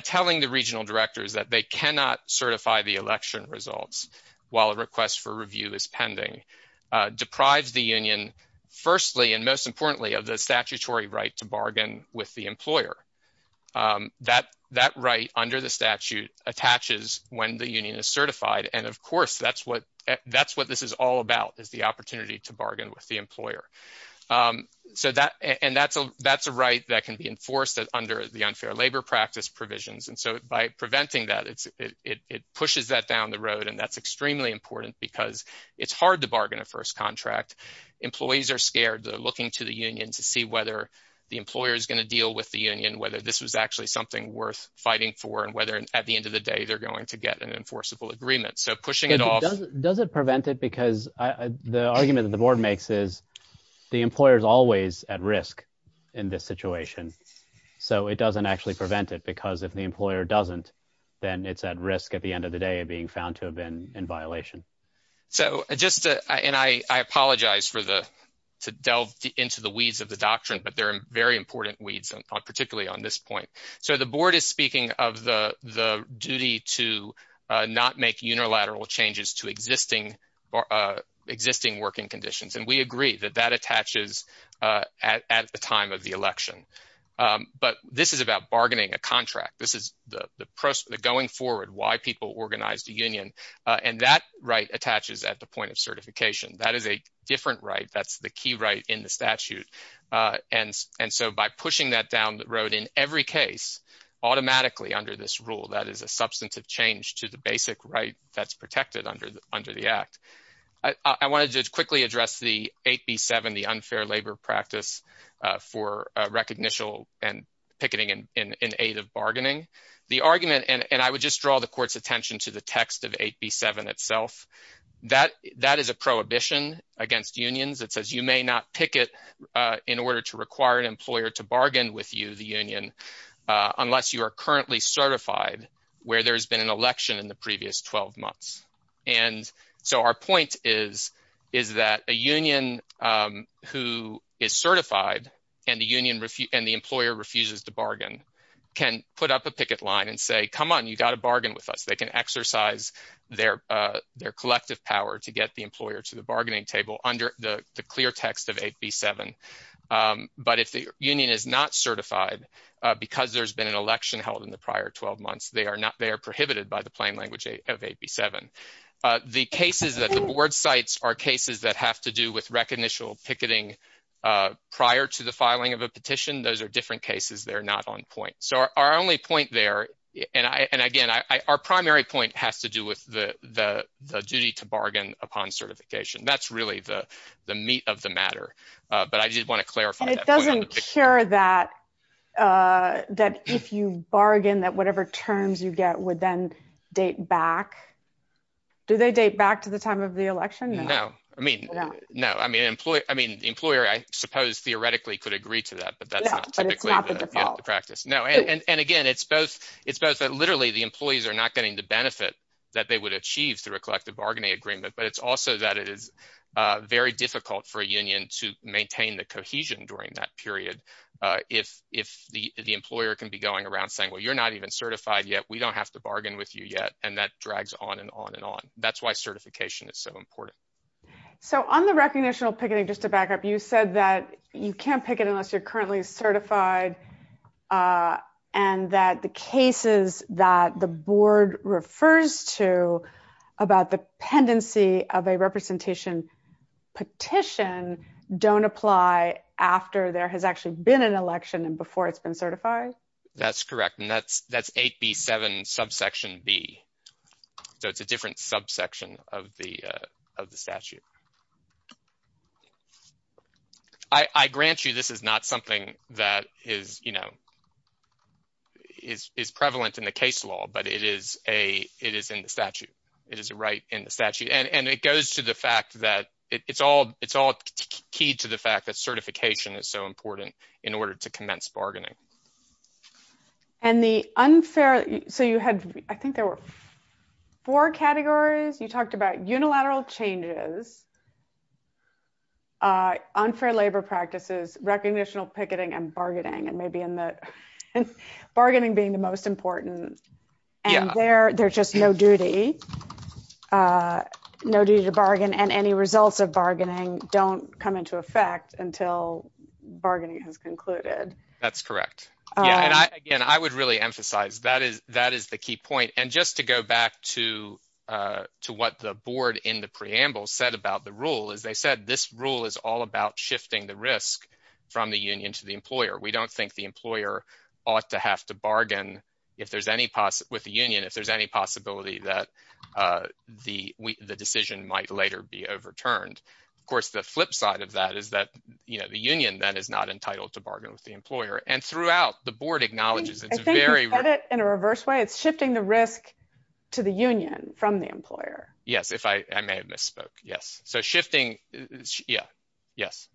telling the regional directors that they cannot certify the election results while a request for review is pending, deprives the union, firstly and most importantly, of the statutory right to bargain with the employer. That that right under the statute attaches when the union is certified. And of course, that's what that's what this is all about, is the opportunity to bargain with the employer. So that and that's a that's a right that can be enforced under the unfair labor practice provisions. And so by preventing that it's it pushes that down the road. And that's extremely important because it's hard to bargain a first contract. Employees are scared. They're looking to the union to see whether the employer is going to deal with the union, whether this was actually something worth fighting for and whether at the end of the day they're going to get an enforceable agreement. So pushing it off. Does it prevent it? Because the argument that the board makes is the employer is always at risk in this situation. So it doesn't actually prevent it, because if the employer doesn't, then it's at risk at the end of the day of being found to have been in violation. So just and I apologize for the to delve into the weeds of the doctrine, but they're very important weeds, particularly on this point. So the board is speaking of the the duty to not make unilateral changes to existing existing working conditions. And we agree that that attaches at the time of the election. But this is about bargaining a contract. This is the going forward, why people organize the union. And that right attaches at the point of certification. That is a different right. That's the key right in the statute. And so by pushing that down the road in every case automatically under this rule, that is a substantive change to the basic right that's protected under the under the act. I wanted to quickly address the 8B7, the unfair labor practice for recognition and picketing in aid of bargaining. The argument and I would just draw the court's attention to the text of 8B7 itself. That that is a prohibition against unions. It says you may not pick it in order to require an employer to bargain with you, the union, unless you are currently certified where there's been an election in the previous 12 months. And so our point is, is that a union who is certified and the union and the employer refuses to bargain can put up a picket line and say, come on, you got to bargain with us. They can exercise their their collective power to get the employer to the bargaining table under the clear text of 8B7. But if the union is not certified because there's been an election held in the prior 12 months, they are not they are prohibited by the plain language of 8B7. The cases that the board cites are cases that have to do with recognition picketing prior to the filing of a petition. Those are different cases. They're not on point. So our only point there. And again, our primary point has to do with the duty to bargain upon certification. That's really the meat of the matter. But I just want to clarify. It doesn't care that if you bargain that whatever terms you get would then date back. Do they date back to the time of the election? No, I mean, no, I mean, employee. I mean, the employer, I suppose, theoretically could agree to that. But that's not typically the practice. No. And again, it's both. It's both literally the employees are not getting the benefit that they would achieve through a collective bargaining agreement. But it's also that it is very difficult for a union to maintain the cohesion during that period. If if the employer can be going around saying, well, you're not even certified yet. We don't have to bargain with you yet. And that drags on and on and on. That's why certification is so important. So on the recognitional picketing, just to back up, you said that you can't pick it unless you're currently certified and that the cases that the board refers to about the pendency of a representation petition don't apply after there has actually been an election and before it's been certified. That's correct. And that's that's 8B7 subsection B. So it's a different subsection of the of the statute. I grant you this is not something that is, you know, is prevalent in the case law, but it is a it is in the statute. It is a right in the statute. And it goes to the fact that it's all it's all key to the fact that certification is so important in order to commence bargaining. And the unfair. So you had I think there were four categories. You talked about unilateral changes. Unfair labor practices, recognitional picketing and bargaining and maybe in the bargaining being the most important. Yeah, they're they're just no duty. No duty to bargain and any results of bargaining don't come into effect until bargaining has concluded. That's correct. Again, I would really emphasize that is that is the key point. And just to go back to to what the board in the preamble said about the rule is they said this rule is all about shifting the risk from the union to the employer. We don't think the employer ought to have to bargain. If there's any with the union, if there's any possibility that the the decision might later be overturned. Of course, the flip side of that is that, you know, the union that is not entitled to bargain with the employer and throughout the board acknowledges it's very In a reverse way. It's shifting the risk to the union from the employer. Yes, if I may have misspoke. Yes. So shifting. Yeah, yes.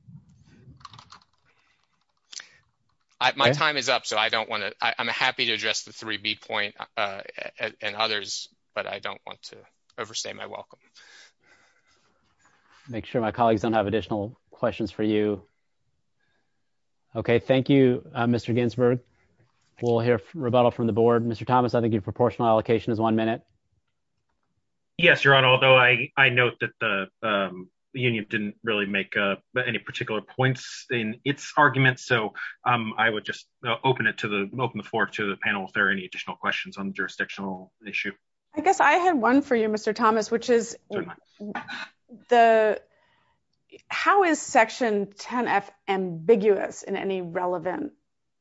My time is up. So I don't want to, I'm happy to address the three B point and others, but I don't want to overstay my welcome. Make sure my colleagues don't have additional questions for you. Okay, thank you, Mr. Ginsburg. We'll hear rebuttal from the board. Mr. Thomas, I think your proportional allocation is one minute. Yes, your honor. Although I, I note that the union didn't really make any particular points in its argument. So I would just open it to the open the floor to the panel. If there are any additional questions on jurisdictional issue. I guess I have one for you, Mr. Thomas, which is The How is section 10 F ambiguous in any relevant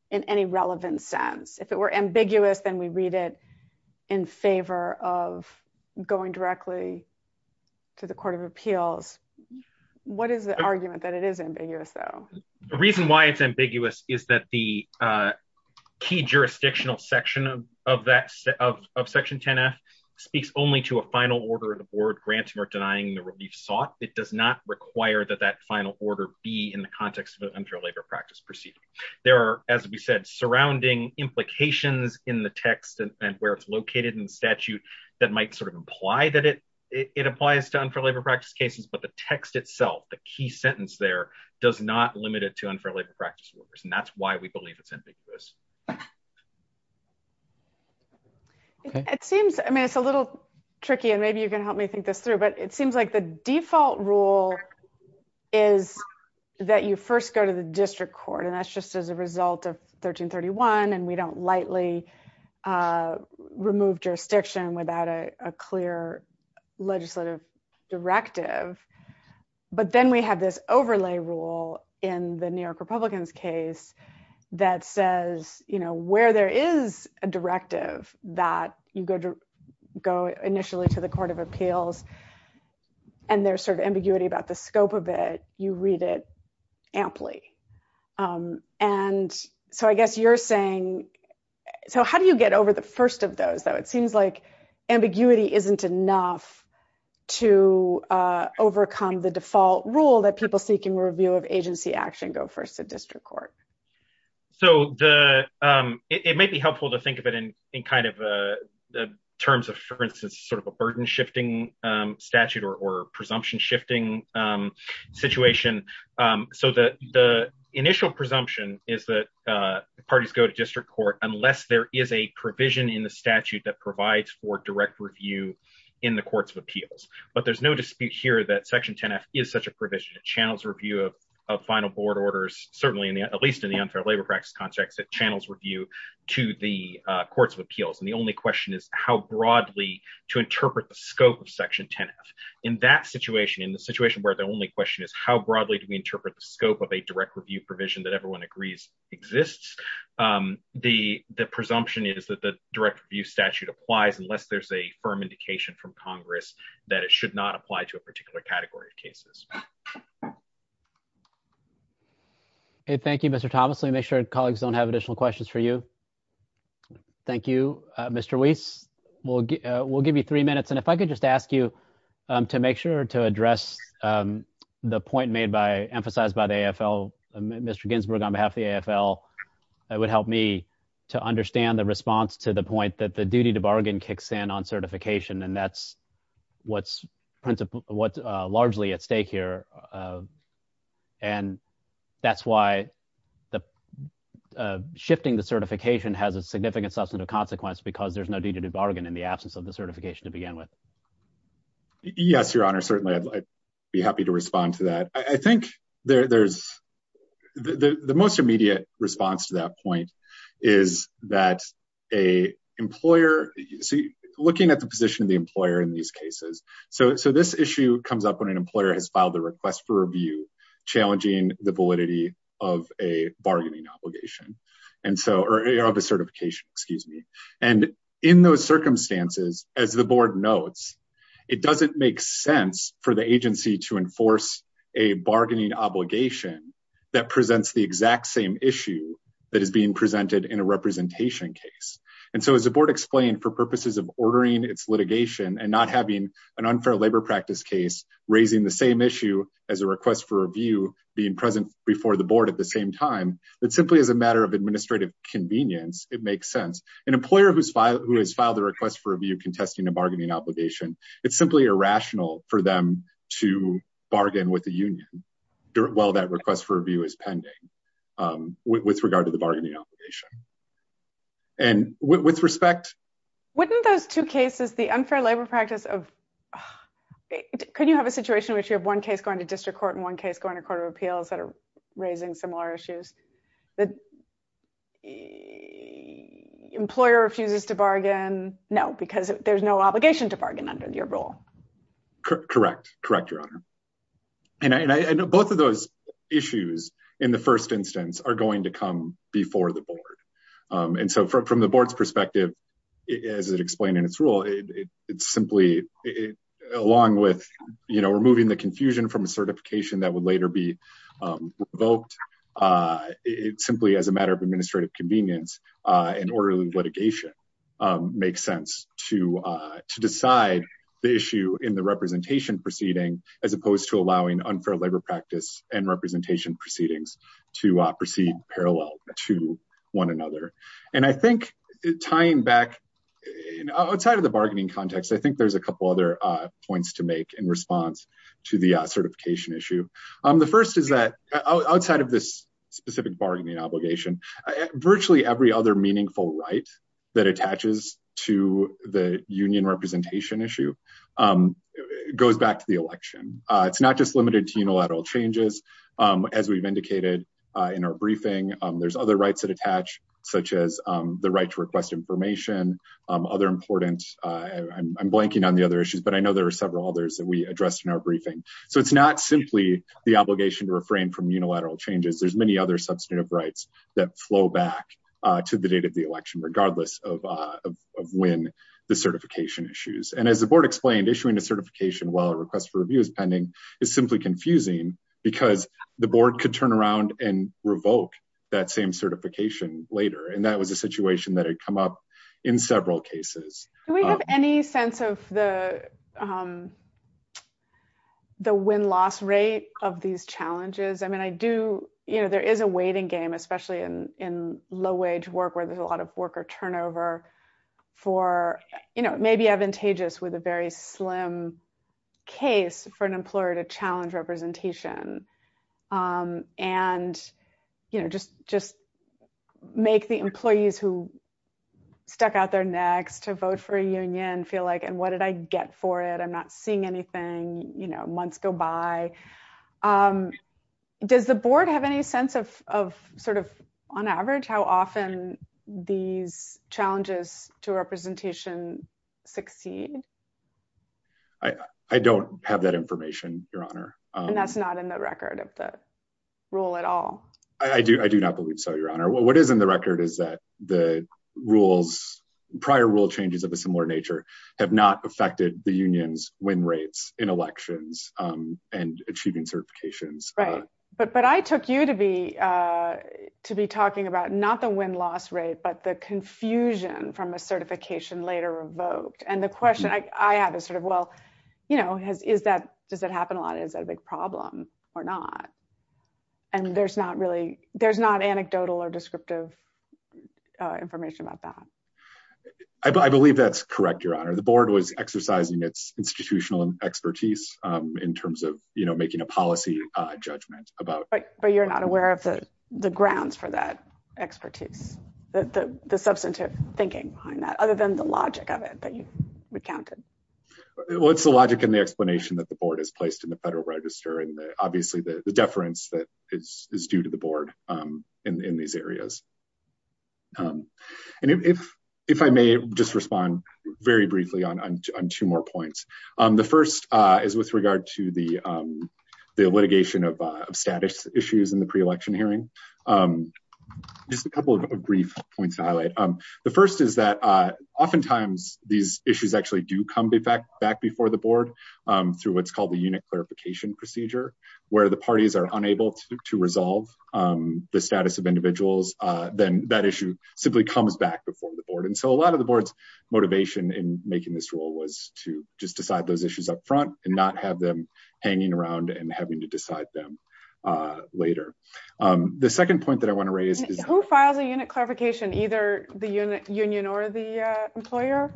in any relevant sense if it were ambiguous, then we read it in favor of going directly to the Court of Appeals. What is the argument that it is ambiguous, though. The reason why it's ambiguous, is that the Key jurisdictional section of that of section 10 F speaks only to a final order of the board granting or denying the relief sought, it does not require that that final order be in the context of unfair labor practice proceeding. There are, as we said, surrounding implications in the text and where it's located in statute that might sort of imply that it It applies to unfair labor practice cases, but the text itself. The key sentence there does not limit it to unfairly practice workers and that's why we believe it's ambiguous. It seems, I mean, it's a little tricky and maybe you can help me think this through, but it seems like the default rule is That you first go to the district court and that's just as a result of 1331 and we don't lightly Remove jurisdiction without a clear legislative directive, but then we have this overlay rule in the New York Republicans case that says, you know where there is a directive that you go to go initially to the Court of Appeals. And there's sort of ambiguity about the scope of it. You read it amply And so I guess you're saying, so how do you get over the first of those, though, it seems like ambiguity isn't enough to overcome the default rule that people seeking review of agency action go first to district court. So the, it may be helpful to think of it in in kind of the terms of, for instance, sort of a burden shifting statute or presumption shifting Situation so that the initial presumption is that parties go to district court, unless there is a provision in the statute that provides for direct review. In the courts of appeals, but there's no dispute here that section 10 F is such a provision channels review of Final board orders, certainly in the at least in the unfair labor practice context that channels review to the courts of appeals and the only question is how broadly To interpret the scope of section 10 F in that situation in the situation where the only question is how broadly do we interpret the scope of a direct review provision that everyone agrees exists. The, the presumption is that the direct review statute applies unless there's a firm indication from Congress that it should not apply to a particular category of cases. Thank you, Mr. Thomas, let me make sure colleagues don't have additional questions for you. Thank you, Mr. Weiss will will give you three minutes. And if I could just ask you to make sure to address. The point made by emphasized by the AFL Mr Ginsburg on behalf of the AFL, it would help me to understand the response to the point that the duty to bargain kicks in on certification and that's what's principal what largely at stake here. And that's why the Shifting the certification has a significant substantive consequence because there's no duty to bargain in the absence of the certification to begin with. Yes, Your Honor. Certainly, I'd be happy to respond to that. I think there's the most immediate response to that point is that a employer. Looking at the position of the employer in these cases. So, so this issue comes up when an employer has filed a request for review challenging the validity of a bargaining obligation. And so, or a certification, excuse me. And in those circumstances, as the board notes, it doesn't make sense for the agency to enforce a bargaining obligation. That presents the exact same issue that is being presented in a representation case. And so as a board explained for purposes of ordering its litigation and not having An unfair labor practice case raising the same issue as a request for review being present before the board at the same time. That simply as a matter of administrative convenience. It makes sense. An employer who's filed who has filed a request for review contesting a bargaining obligation. It's simply irrational for them to bargain with the union during well that request for review is pending. With regard to the bargaining obligation. And with respect Wouldn't those two cases, the unfair labor practice of Can you have a situation which you have one case going to district court and one case going to court of appeals that are raising similar issues that Employer refuses to bargain. No, because there's no obligation to bargain under your role. Correct. Correct, Your Honor. And I know both of those issues in the first instance are going to come before the board. And so from the board's perspective, as it explained in its rule, it's simply it along with, you know, removing the confusion from a certification that would later be Unfair labor practice and representation proceedings to proceed parallel to one another. And I think tying back Outside of the bargaining context. I think there's a couple other points to make in response to the certification issue. The first is that outside of this specific bargaining obligation virtually every other meaningful right that attaches to the union representation issue. Goes back to the election. It's not just limited to unilateral changes. As we've indicated in our briefing. There's other rights that attach such as the right to request information other important I'm blanking on the other issues, but I know there are several others that we addressed in our briefing. So it's not simply the obligation to refrain from unilateral changes. There's many other substantive rights that flow back To the date of the election, regardless of when the certification issues and as the board explained issuing a certification while request for review is pending is simply confusing because the board could turn around and revoke that same certification later. And that was a situation that had come up in several cases. Any sense of the The win loss rate of these challenges. I mean, I do you know there is a waiting game, especially in in low wage work where there's a lot of worker turnover for, you know, maybe advantageous with a very slim case for an employer to challenge representation. And, you know, just, just make the employees who stuck out there next to vote for a union feel like and what did I get for it. I'm not seeing anything you know months go by. Does the board have any sense of sort of on average, how often these challenges to representation succeed. I don't have that information, Your Honor. And that's not in the record of the rule at all. I do, I do not believe so, Your Honor. What is in the record is that the rules prior rule changes of a similar nature have not affected the unions when rates in elections and achieving certifications. Right. But, but I took you to be to be talking about not the win loss rate, but the confusion from a certification later revoked and the question I have is sort of, well, you know, has, is that does that happen a lot. Is that a big problem or not. And there's not really, there's not anecdotal or descriptive information about that. I believe that's correct, Your Honor, the board was exercising its institutional expertise in terms of, you know, making a policy judgment about, but you're not aware of the grounds for that expertise that the substantive thinking behind that other than the logic of it that you recounted. What's the logic and the explanation that the board is placed in the Federal Register and obviously the deference that is due to the board in these areas. And if, if I may just respond very briefly on two more points. The first is with regard to the litigation of status issues in the pre election hearing. Just a couple of brief points to highlight. The first is that oftentimes these issues actually do come back before the board through what's called the unit clarification procedure, where the parties are unable to resolve the status of individuals, then that issue simply comes back before the board and so a lot of the board's motivation in making this rule was to just decide those issues up front and not have them hanging around and having to decide them later. The second point that I want to raise is who files a unit clarification either the unit union or the employer.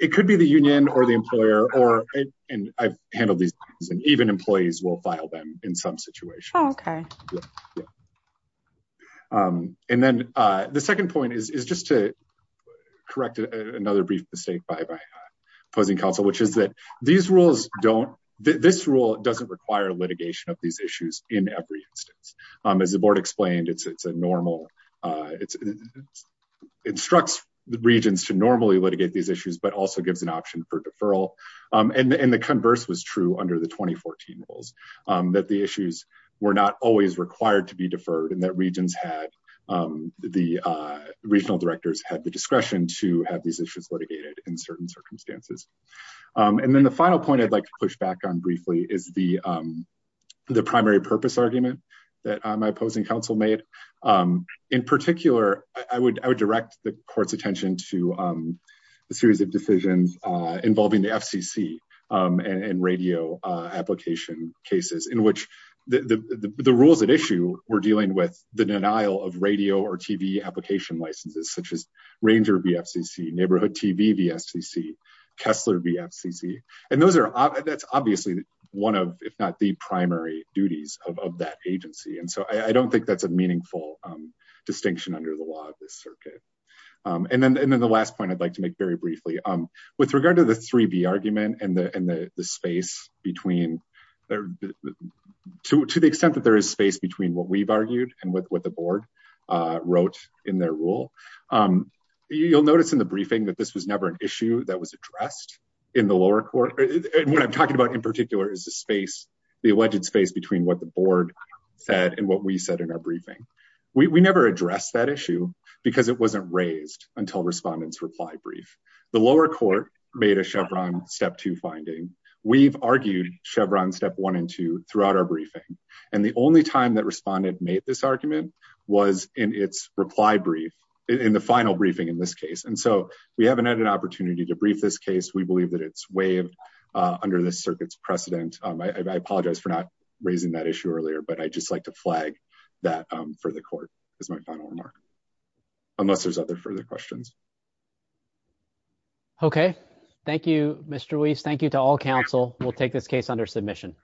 It could be the union or the employer or and I've handled these and even employees will file them in some situation. Okay. And then the second point is just to correct another brief mistake by opposing counsel, which is that these rules don't this rule doesn't require litigation of these issues in every instance, as the board explained it's it's a normal. Instructs the regions to normally litigate these issues, but also gives an option for deferral and the converse was true under the 2014 rules that the issues were not always required to be deferred and that regions had the regional directors had the discretion to have these issues litigated in certain circumstances. And then the final point I'd like to push back on briefly is the, the primary purpose argument that my opposing counsel made. In particular, I would, I would direct the court's attention to the series of decisions involving the FCC and radio application cases in which The rules at issue, we're dealing with the denial of radio or TV application licenses, such as Ranger VFCC, Neighborhood TV VFCC, Kessler VFCC, and those are, that's obviously one of, if not the primary duties of that agency and so I don't think that's a meaningful distinction under the law of this circuit. And then, and then the last point I'd like to make very briefly, um, with regard to the three be argument and the and the space between there to the extent that there is space between what we've argued, and with what the board wrote in their rule. You'll notice in the briefing that this was never an issue that was addressed in the lower court. And what I'm talking about in particular is the space, the alleged space between what the board said and what we said in our briefing. We never addressed that issue because it wasn't raised until respondents reply brief. The lower court made a Chevron step two finding. We've argued Chevron step one and two throughout our briefing. And the only time that responded made this argument was in its reply brief in the final briefing in this case and so we haven't had an opportunity to brief this case we believe that it's way under the circuits precedent. I apologize for not raising that issue earlier but I just like to flag that for the court is my final remark, unless there's other further questions. Okay, thank you, Mr. Weiss thank you to all counsel will take this case under submission.